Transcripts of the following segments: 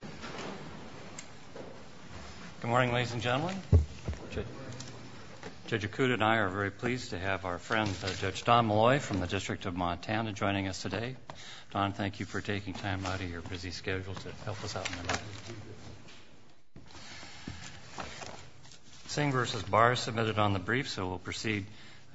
Good morning, ladies and gentlemen. Judge Akuda and I are very pleased to have our friend Judge Don Molloy from the District of Montana joining us today. Don, thank you for taking time out of your busy schedule to help us out. Singh v. Barr submitted on the brief, so we'll proceed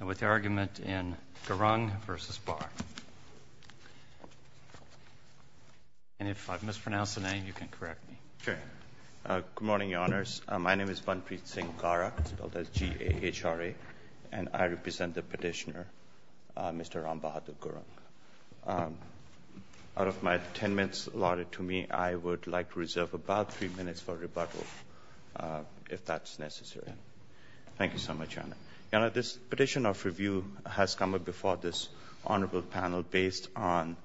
with the argument in Gurung v. Barr. And if I've mispronounced the name, you can correct me. Singh v. Barr Good morning, Your Honors. My name is Bhanpreet Singh Gara, spelled as G-A-H-R-A, and I represent the petitioner, Mr. Rambhadu Gurung. Out of my 10 minutes allotted to me, I would like to reserve about three minutes for rebuttal, if that's necessary. Thank you so much, Your Honor. Your Honor, this petition of review has come up before this honorable panel based on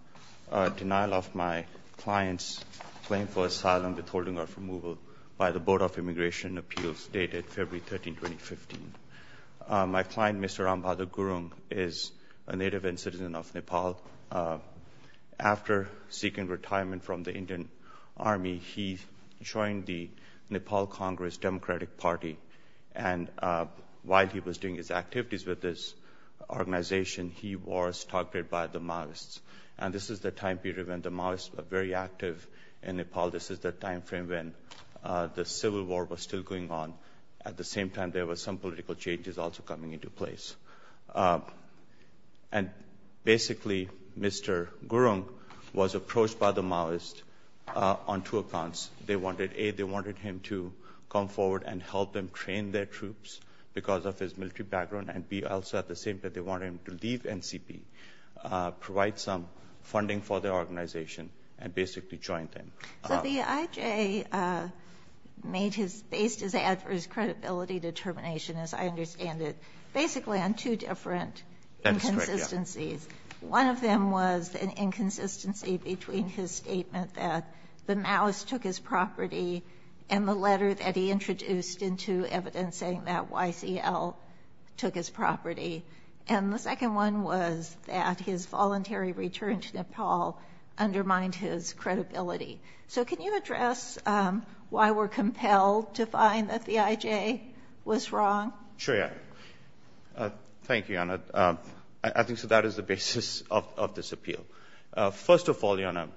denial of my client's claim for asylum withholding or removal by the Board of Immigration Appeals dated February 13, 2015. My client, Mr. Rambhadu Gurung, is a native and citizen of Nepal. After seeking retirement from the Indian Army, he joined the Nepal Congress Democratic Party, and while he was doing his activities with this organization, he was targeted by the Maoists who were very active in Nepal. This is the time frame when the civil war was still going on. At the same time, there were some political changes also coming into place. And basically, Mr. Gurung was approached by the Maoists on two accounts. They wanted A, they wanted him to come forward and help them train their troops because of his military background, and B, also at the same time, they wanted him to leave NCP, provide some support to the organization, and basically join them. So the IJ made his, based his adverse credibility determination, as I understand it, basically on two different inconsistencies. One of them was an inconsistency between his statement that the Maoists took his property and the letter that he introduced into evidencing that YCL took his property. And the second one was that his voluntary return to Nepal undermined his credibility. So can you address why we're compelled to find that the IJ was wrong? Sure. Thank you, Anna. I think that is the basis of this appeal. First of all, Anna,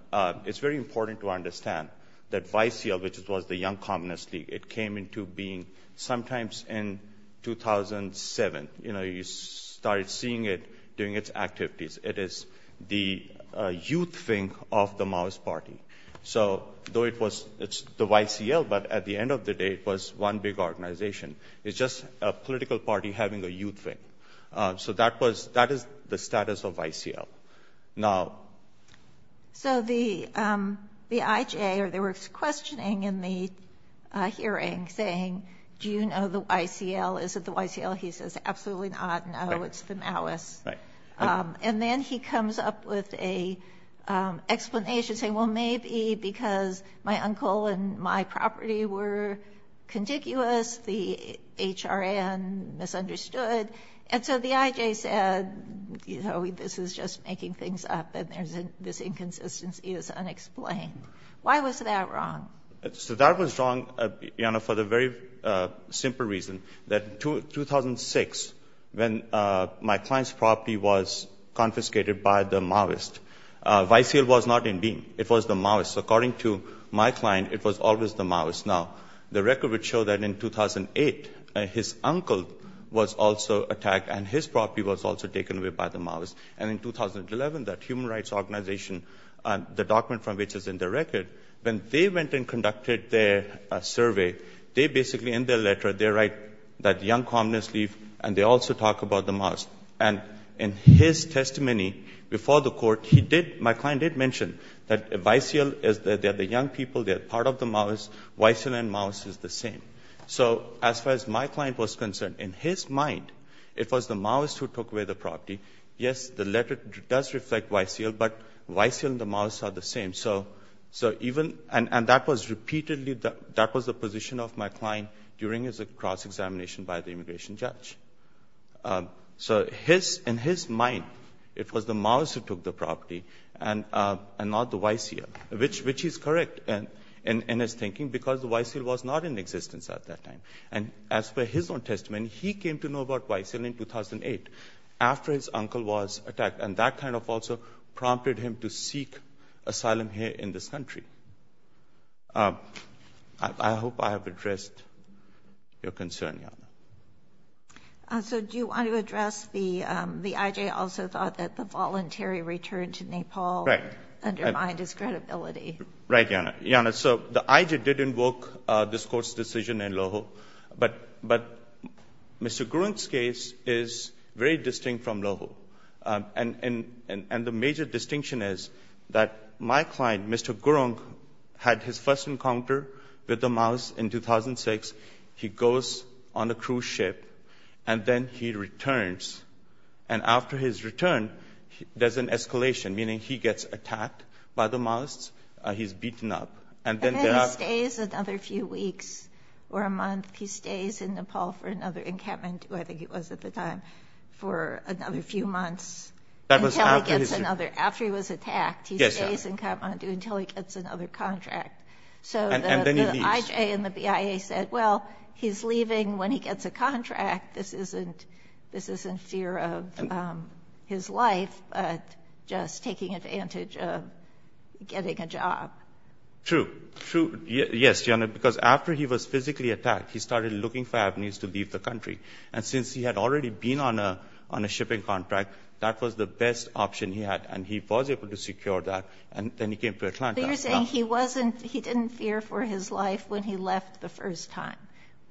it's very important to understand that YCL, which was the Young Communist League, it came into being sometimes in 2007. You know, you started seeing it doing its activities. It is the youth thing of the Maoist Party. So though it was, it's the YCL, but at the end of the day, it was one big organization. It's just a political party having a youth thing. So that was, that is the status of YCL. Now... So the IJ, or they were questioning in the hearing saying, do you know the YCL? Is it the YCL? He says, absolutely not. No, it's the Maoists. And then he comes up with a explanation saying, well, maybe because my uncle and my property were contiguous, the HRN misunderstood. And so the IJ said, you know, this is just making things up and there's, this inconsistency is unexplained. Why was that wrong? So that was wrong, Anna, for the very simple reason that 2006, when my client's property was confiscated by the Maoists, YCL was not in being. It was the Maoists. According to my client, it was always the Maoists. Now, the record would show that in 2008, his uncle was also attacked and his property was also taken away by the Maoists. And in 2011, that human rights organization, the document from which is in the record, when they went and conducted their survey, they basically, in their letter, they write that the young communists leave and they also talk about the Maoists. And in his testimony before the court, he did, my client did mention that YCL is, they're the young people, they're part of the Maoists, YCL and Maoists is the same. So as far as my client was concerned, in his mind, it was the Maoists who took away the property. Yes, the letter does reflect YCL, but YCL and the Maoists are the same. So even, and that was repeatedly, that was the position of my client during his cross-examination by the immigration judge. So his, in his mind, it was the Maoists who took the property and not the YCL, which is correct in his thinking, because the YCL was not in existence at that time. And as per his own testimony, he came to know about YCL in 2008, after his uncle was attacked. And that kind of also prompted him to seek asylum here in this country. I hope I have addressed your concern. So do you want to address the, the IJ also thought that the voluntary return to Nepal undermined his credibility? Right, Yana. So the IJ did invoke this court's decision in Loho, but Mr. Gurung's case is very distinct from Loho. And the major distinction is that my client, Mr. Gurung, had his first visit on a cruise ship, and then he returns. And after his return, there's an escalation, meaning he gets attacked by the Maoists, he's beaten up. And then there are... And then he stays another few weeks, or a month, he stays in Nepal for another, in Kathmandu, I think it was at the time, for another few months, until he gets another, after he was attacked, he stays in Kathmandu until he gets another contract. And then he leaves. And then the IJ and the BIA said, well, he's leaving when he gets a contract. This isn't, this isn't fear of his life, but just taking advantage of getting a job. True, true. Yes, Yana, because after he was physically attacked, he started looking for avenues to leave the country. And since he had already been on a, on a shipping contract, that was the best option he had. And he was able to secure that. And then he came to Atlanta. So you're saying he wasn't, he didn't fear for his life when he left the first time.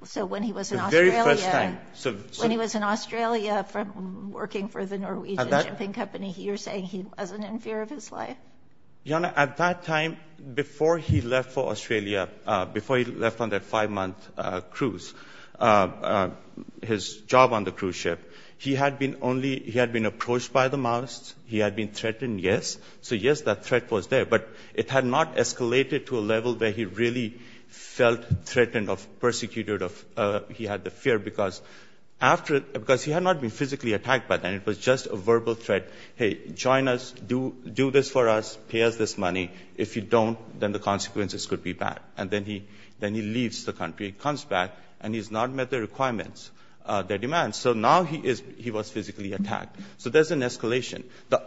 So when he was in Australia, when he was in Australia from working for the Norwegian shipping company, you're saying he wasn't in fear of his life? Yana, at that time, before he left for Australia, before he left on that five-month cruise, his job on the cruise ship, he had been only, he had been approached by the Maoists. He had been threatened, yes. So yes, that threat was there. But it had not escalated to a level where he really felt threatened or persecuted of, he had the fear, because after, because he had not been physically attacked by them. It was just a verbal threat. Hey, join us, do this for us, pay us this money. If you don't, then the consequences could be bad. And then he, then he leaves the country, comes back, and he's not met the requirements, the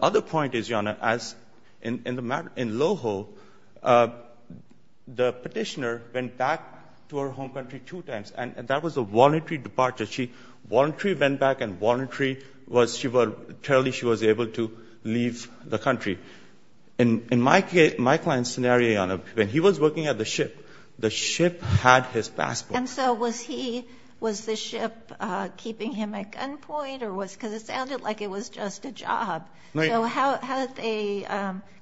other point is, Yana, as in Loho, the petitioner went back to her home country two times, and that was a voluntary departure. She voluntarily went back and voluntarily was, she was, totally she was able to leave the country. In my client's scenario, Yana, when he was working at the ship, the ship had his passport. And so was he, was the ship keeping him at gunpoint, or was, because it sounded like it was just a job. So how did they,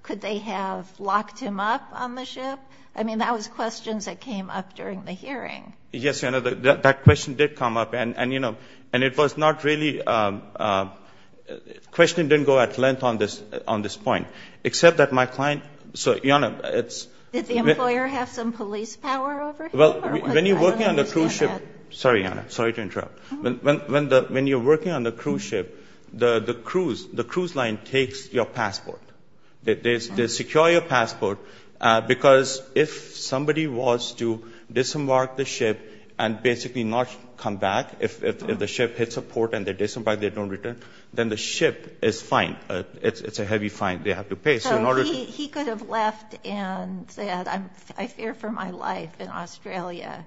could they have locked him up on the ship? I mean, that was questions that came up during the hearing. Yes, Yana, that question did come up, and you know, and it was not really, the question didn't go at length on this, on this point. Except that my client, so Yana, it's Did the employer have some police power over him? Well, when you're working on the cruise ship, sorry Yana, sorry to interrupt. When the, when you're working on the cruise ship, the cruise, the cruise line takes your passport. They secure your passport, because if somebody was to disembark the ship and basically not come back, if the ship hits a port and they disembark, they don't return, then the ship is fined. It's a heavy fine they have to pay. So he could have left and said, I fear for my life in Australia.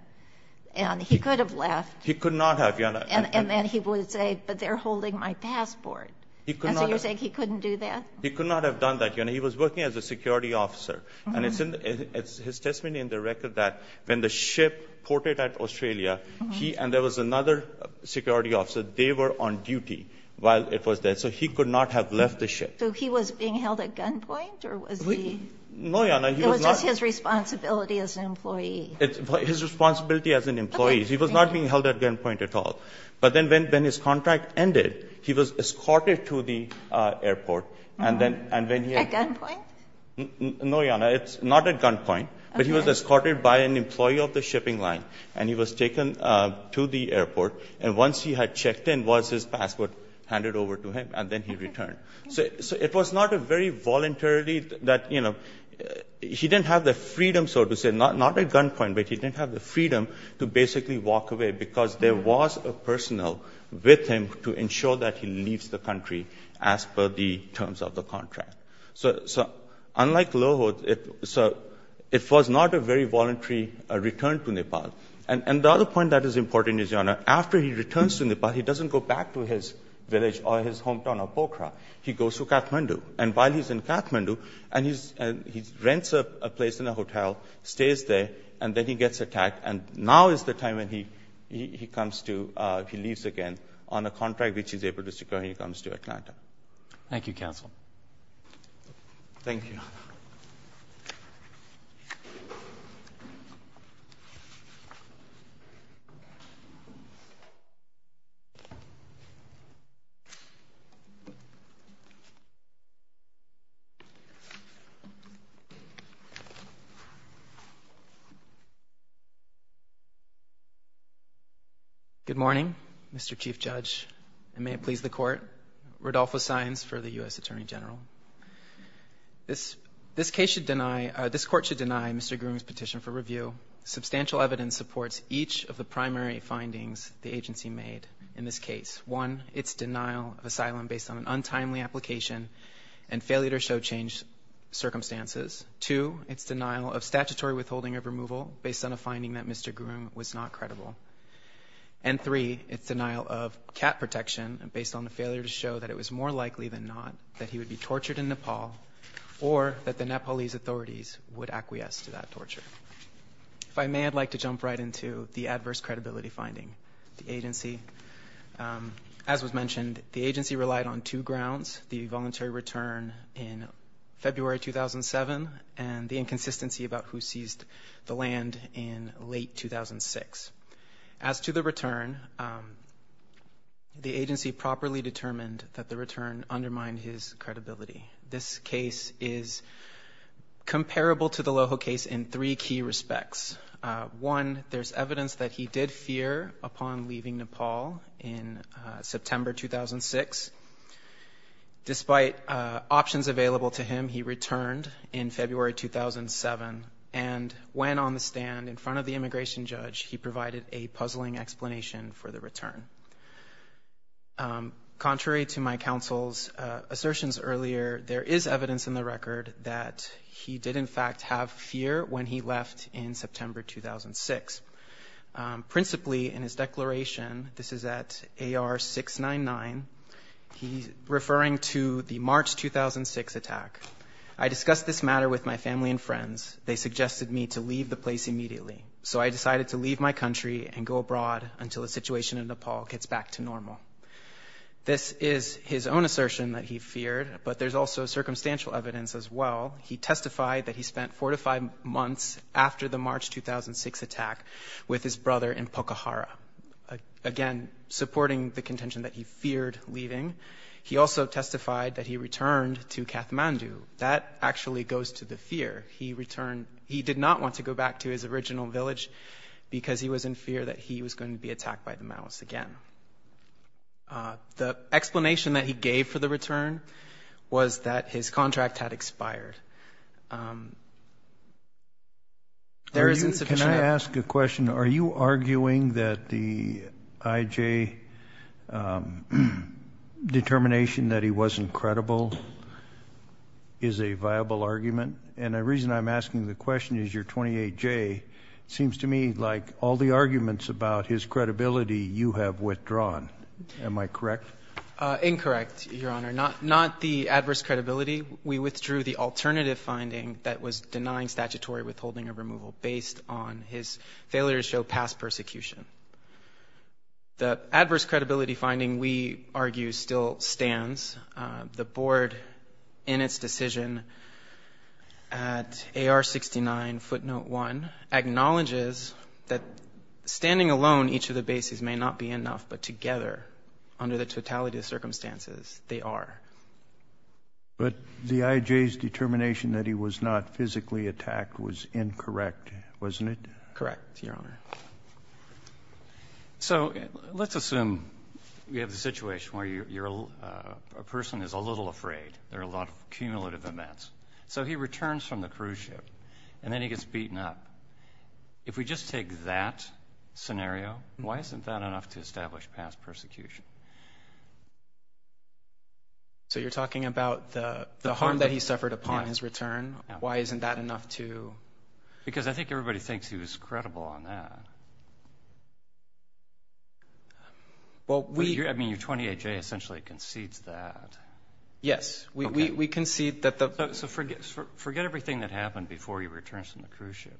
And he could have left. He could not have, Yana. And then he would say, but they're holding my passport. And so you're saying he couldn't do that? He could not have done that, Yana. He was working as a security officer. And it's in, his testimony in the record that when the ship ported at Australia, he, and there was another security officer, they were on duty while it was there. So he could not have left the ship. So he was being held at gunpoint, or was he? No, Yana, he was not. It was just his responsibility as an employee. His responsibility as an employee. He was not being held at gunpoint at all. But then when his contract ended, he was escorted to the airport. And then, and then he had... At gunpoint? No, Yana, it's not at gunpoint, but he was escorted by an employee of the shipping line. And he was taken to the airport. And once he had checked in, was his passport handed over to him, and then he returned. So it was not a very voluntarily that, you know, he didn't have the freedom, so to say, not at gunpoint, but he didn't have the freedom to basically walk away because there was a personnel with him to ensure that he leaves the country as per the terms of the contract. So unlike Lohot, it was not a very voluntary return to Nepal. And the other point that is important is, Yana, after he returns to Nepal, he doesn't go back to his village or his hometown of Pokhara. He goes to Kathmandu. And while he's in Kathmandu, and he rents a place in a hotel, stays there, and then he gets attacked. And now is the time when he comes to, he leaves again on a contract which he's able to secure when he comes to Atlanta. Thank you, counsel. Thank you. Good morning, Mr. Chief Judge, and may it please the court, Rodolfo Saenz for the U.S. Attorney General. This case should deny, this court should deny Mr. Groom's petition for review. Substantial evidence supports each of the primary findings the agency made in this case. One, it's denial of asylum based on an untimely application and failure to show changed circumstances. Two, it's denial of statutory withholding of removal based on a finding that Mr. Groom was not credible. And three, it's denial of cat protection based on a failure to show that it was more likely than not that he would be tortured in Nepal or that the Nepalese authorities would acquiesce to that torture. If I may, I'd like to jump right into the adverse credibility finding. The agency, as was mentioned, the agency relied on two grounds, the voluntary return in February 2007 and the inconsistency about who seized the land in late 2006. As to the return, the agency properly determined that the return undermined his credibility. This case is comparable to the Loho case in three key respects. One, there's evidence that he did fear upon leaving Nepal in September 2006. Despite options available to him, he returned in February 2007 and when on the stand in front of the immigration judge, he provided a puzzling explanation for the Contrary to my counsel's assertions earlier, there is evidence in the record that he did in fact have fear when he left in September 2006. Principally in his declaration, this is at AR 699, he's referring to the March 2006 attack. I discussed this matter with my family and friends. They suggested me to leave the place immediately. So I decided to leave my country and go abroad until the situation in Nepal gets back to normal. This is his own assertion that he feared, but there's also circumstantial evidence as well. He testified that he spent four to five months after the March 2006 attack with his brother in Pokhara. Again supporting the contention that he feared leaving, he also testified that he returned to Kathmandu. That actually goes to the fear. He returned, he did not want to go back to his original village because he was in fear that he was going to be attacked by the Maoists again. The explanation that he gave for the return was that his contract had expired. There is insufficient- Can I ask a question? Are you arguing that the IJ determination that he wasn't credible is a viable argument? And the reason I'm asking the question is your 28J seems to me like all the arguments about his credibility you have withdrawn. Am I correct? Incorrect, Your Honor. Not the adverse credibility. We withdrew the alternative finding that was denying statutory withholding of removal based on his failure to show past persecution. The adverse credibility finding, we argue, still stands. The Board, in its decision at AR 69 footnote 1, acknowledges that standing alone each of the bases may not be enough, but together, under the totality of circumstances, they are. But the IJ's determination that he was not physically attacked was incorrect, wasn't it? Correct, Your Honor. So let's assume we have a situation where a person is a little afraid. There are a lot of cumulative events. So he returns from the cruise ship and then he gets beaten up. If we just take that scenario, why isn't that enough to establish past persecution? So you're talking about the harm that he suffered upon his return? Why isn't that enough to- Because I think everybody thinks he was credible on that. I mean, your 28J essentially concedes that. Yes. We concede that the- So forget everything that happened before he returns from the cruise ship.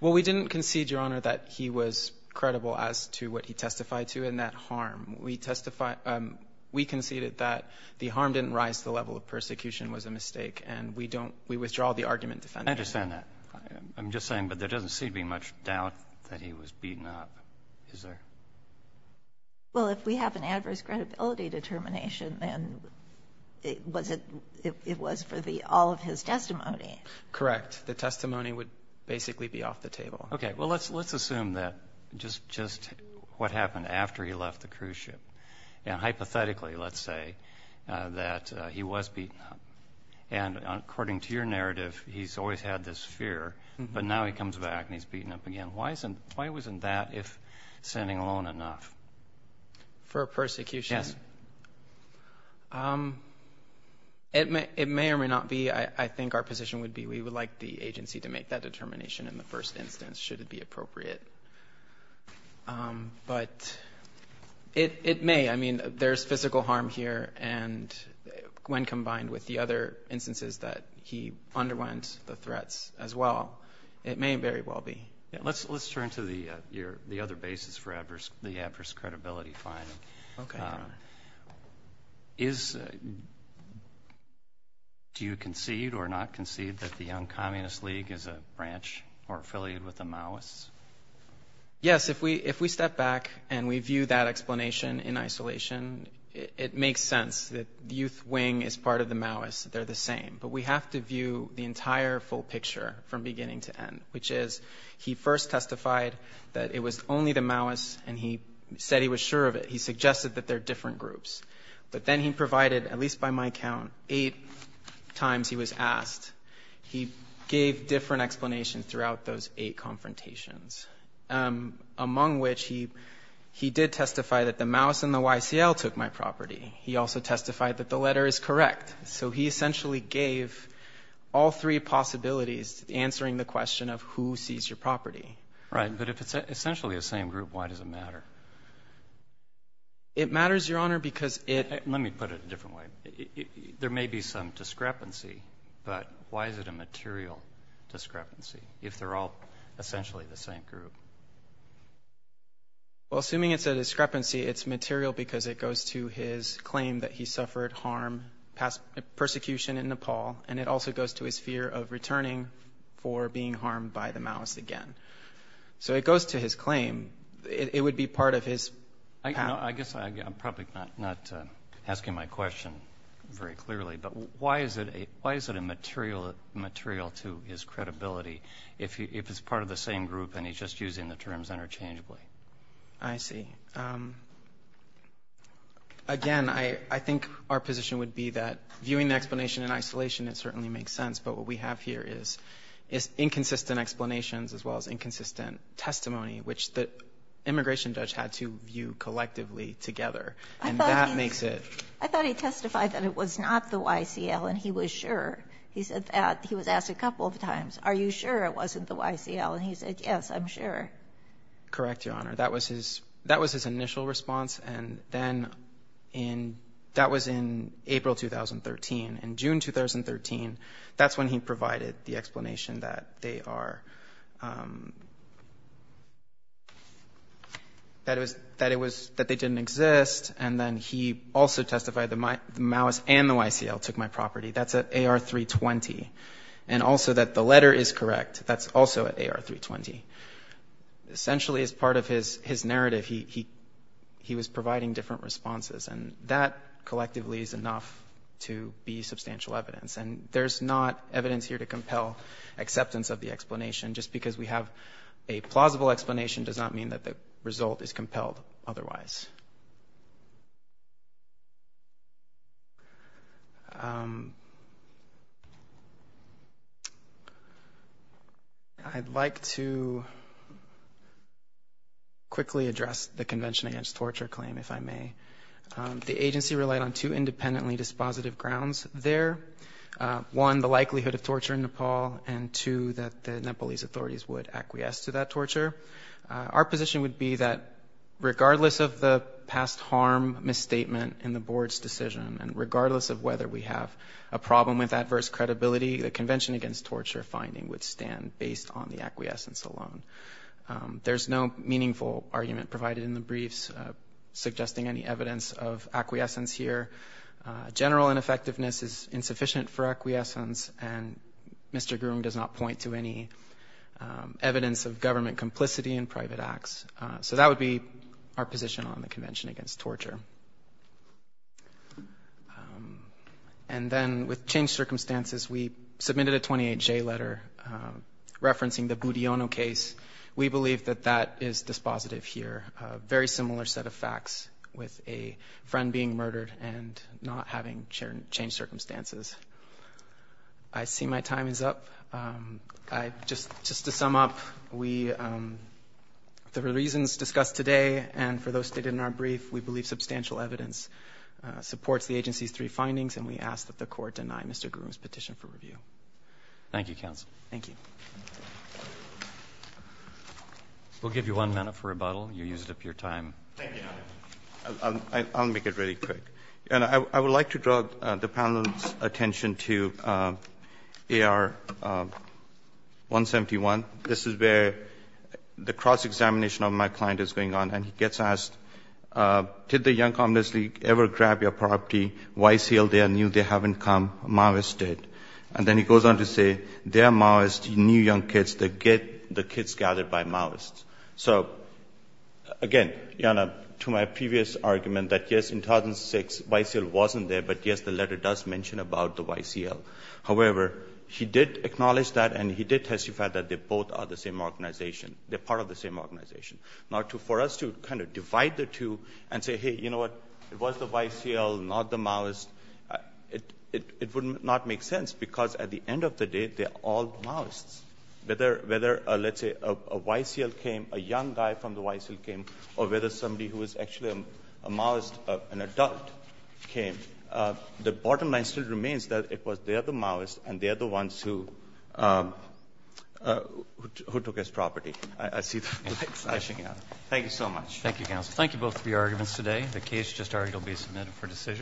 Well, we didn't concede, Your Honor, that he was credible as to what he testified to in that harm. We conceded that the harm didn't rise to the level of persecution was a mistake and we withdraw the argument defending him. I understand that. I'm just saying, but there doesn't seem to be much doubt that he was beaten up. Is there? Well, if we have an adverse credibility determination, then it was for all of his testimony. Correct. The testimony would basically be off the table. Okay. Well, let's assume that just what happened after he left the cruise ship. And hypothetically, let's say that he was beaten up. And according to your narrative, he's always had this fear, but now he comes back and he's beaten up again. Why wasn't that, if standing alone, enough? For persecution? Yes. It may or may not be. I think our position would be we would like the agency to make that determination in the first instance, should it be appropriate. But it may. I mean, there's physical harm here. And when combined with the other instances that he underwent the threats as well, it may very well be. Let's turn to the other basis for the adverse credibility finding. Do you concede or not concede that the Young Communist League is a branch or affiliated with the Maoists? Yes. If we step back and we view that explanation in isolation, it makes sense that the Youth Wing is part of the Maoists. They're the same. But we have to view the entire full picture from beginning to end, which is he first testified that it was only the Maoists and he said he was sure of it. He suggested that they're different groups. But then he provided, at least by my count, eight times he was asked. He gave different explanations throughout those eight confrontations, among which he did testify that the Maoists and the YCL took my property. He also testified that the letter is correct. So he essentially gave all three possibilities to answering the question of who sees your property. Right. But if it's essentially the same group, why does it matter? It matters, Your Honor, because it – Let me put it a different way. There may be some discrepancy, but why is it a material discrepancy if they're all essentially the same group? Well, assuming it's a discrepancy, it's material because it goes to his claim that he suffered harm, persecution in Nepal, and it also goes to his fear of returning for being harmed by the Maoists again. So it goes to his claim. It would be part of his path. I guess I'm probably not asking my question very clearly, but why is it a material to his credibility if it's part of the same group and he's just using the terms interchangeably? I see. Again, I think our position would be that viewing the explanation in isolation, it certainly makes sense. But what we have here is inconsistent explanations as well as inconsistent testimony, which the immigration judge had to view collectively together. And that makes it – I thought he testified that it was not the YCL, and he was sure. He said that. He was asked a couple of times, are you sure it wasn't the YCL? And he said, yes, I'm sure. Correct, Your Honor. That was his initial response. And then in – that was in April 2013. In June 2013, that's when he provided the explanation that they are – that it was – that they didn't exist. And then he also testified the Maoists and the YCL took my property. That's at AR 320. And also that the letter is correct. That's also at AR 320. Essentially, as part of his narrative, he was providing different responses. And that collectively is enough to be substantial evidence. And there's not evidence here to compel acceptance of the explanation. Just because we have a plausible explanation does not mean that the result is compelled otherwise. I'd like to quickly address the Convention Against Torture claim, if I may. The agency relied on two independently dispositive grounds there. One, the likelihood of torture in Nepal, and two, that the Nepalese authorities would acquiesce to that torture. Our position would be that regardless of the past harm misstatement in the board's decision and of whether we have a problem with adverse credibility, the Convention Against Torture finding would stand based on the acquiescence alone. There's no meaningful argument provided in the briefs suggesting any evidence of acquiescence here. General ineffectiveness is insufficient for acquiescence, and Mr. Groom does not point to any evidence of government complicity in private acts. So that would be our position on the Convention Against Torture. And then with changed circumstances, we submitted a 28-J letter referencing the Budiono case. We believe that that is dispositive here. A very similar set of facts with a friend being murdered and not having changed circumstances. I see my time is up. Just to sum up, the reasons discussed today and for those stated in our brief, we believe substantial evidence supports the agency's three findings, and we ask that the court deny Mr. Groom's petition for review. Thank you, counsel. Thank you. We'll give you one minute for rebuttal. You used up your time. Thank you. I'll make it really quick. And I would like to draw the panel's attention to AR 171. This is where the cross-examination of my client is going on, and he gets asked, did the Young Communist League ever grab your property? YCL there knew they haven't come. Maoists did. And then he goes on to say, they are Maoists, new young kids. They get the kids gathered by Maoists. So, again, to my previous argument that, yes, in 2006, YCL wasn't there, but, yes, the letter does mention about the YCL. However, he did acknowledge that, and he did testify that they both are the same organization. They're part of the same organization. Now, for us to kind of divide the two and say, hey, you know what, it was the YCL, not the Maoists, it would not make sense, because at the end of the day, they're all Maoists. Whether, let's say, a YCL came, a young guy from the YCL came, or whether somebody who was actually a Maoist, an adult, came, the bottom line still remains that it was they're the Maoists, and they're the ones who took his property. I see that flashing out. Thank you so much. Thank you, counsel. Thank you both for your arguments today. The case just argued will be submitted for decision.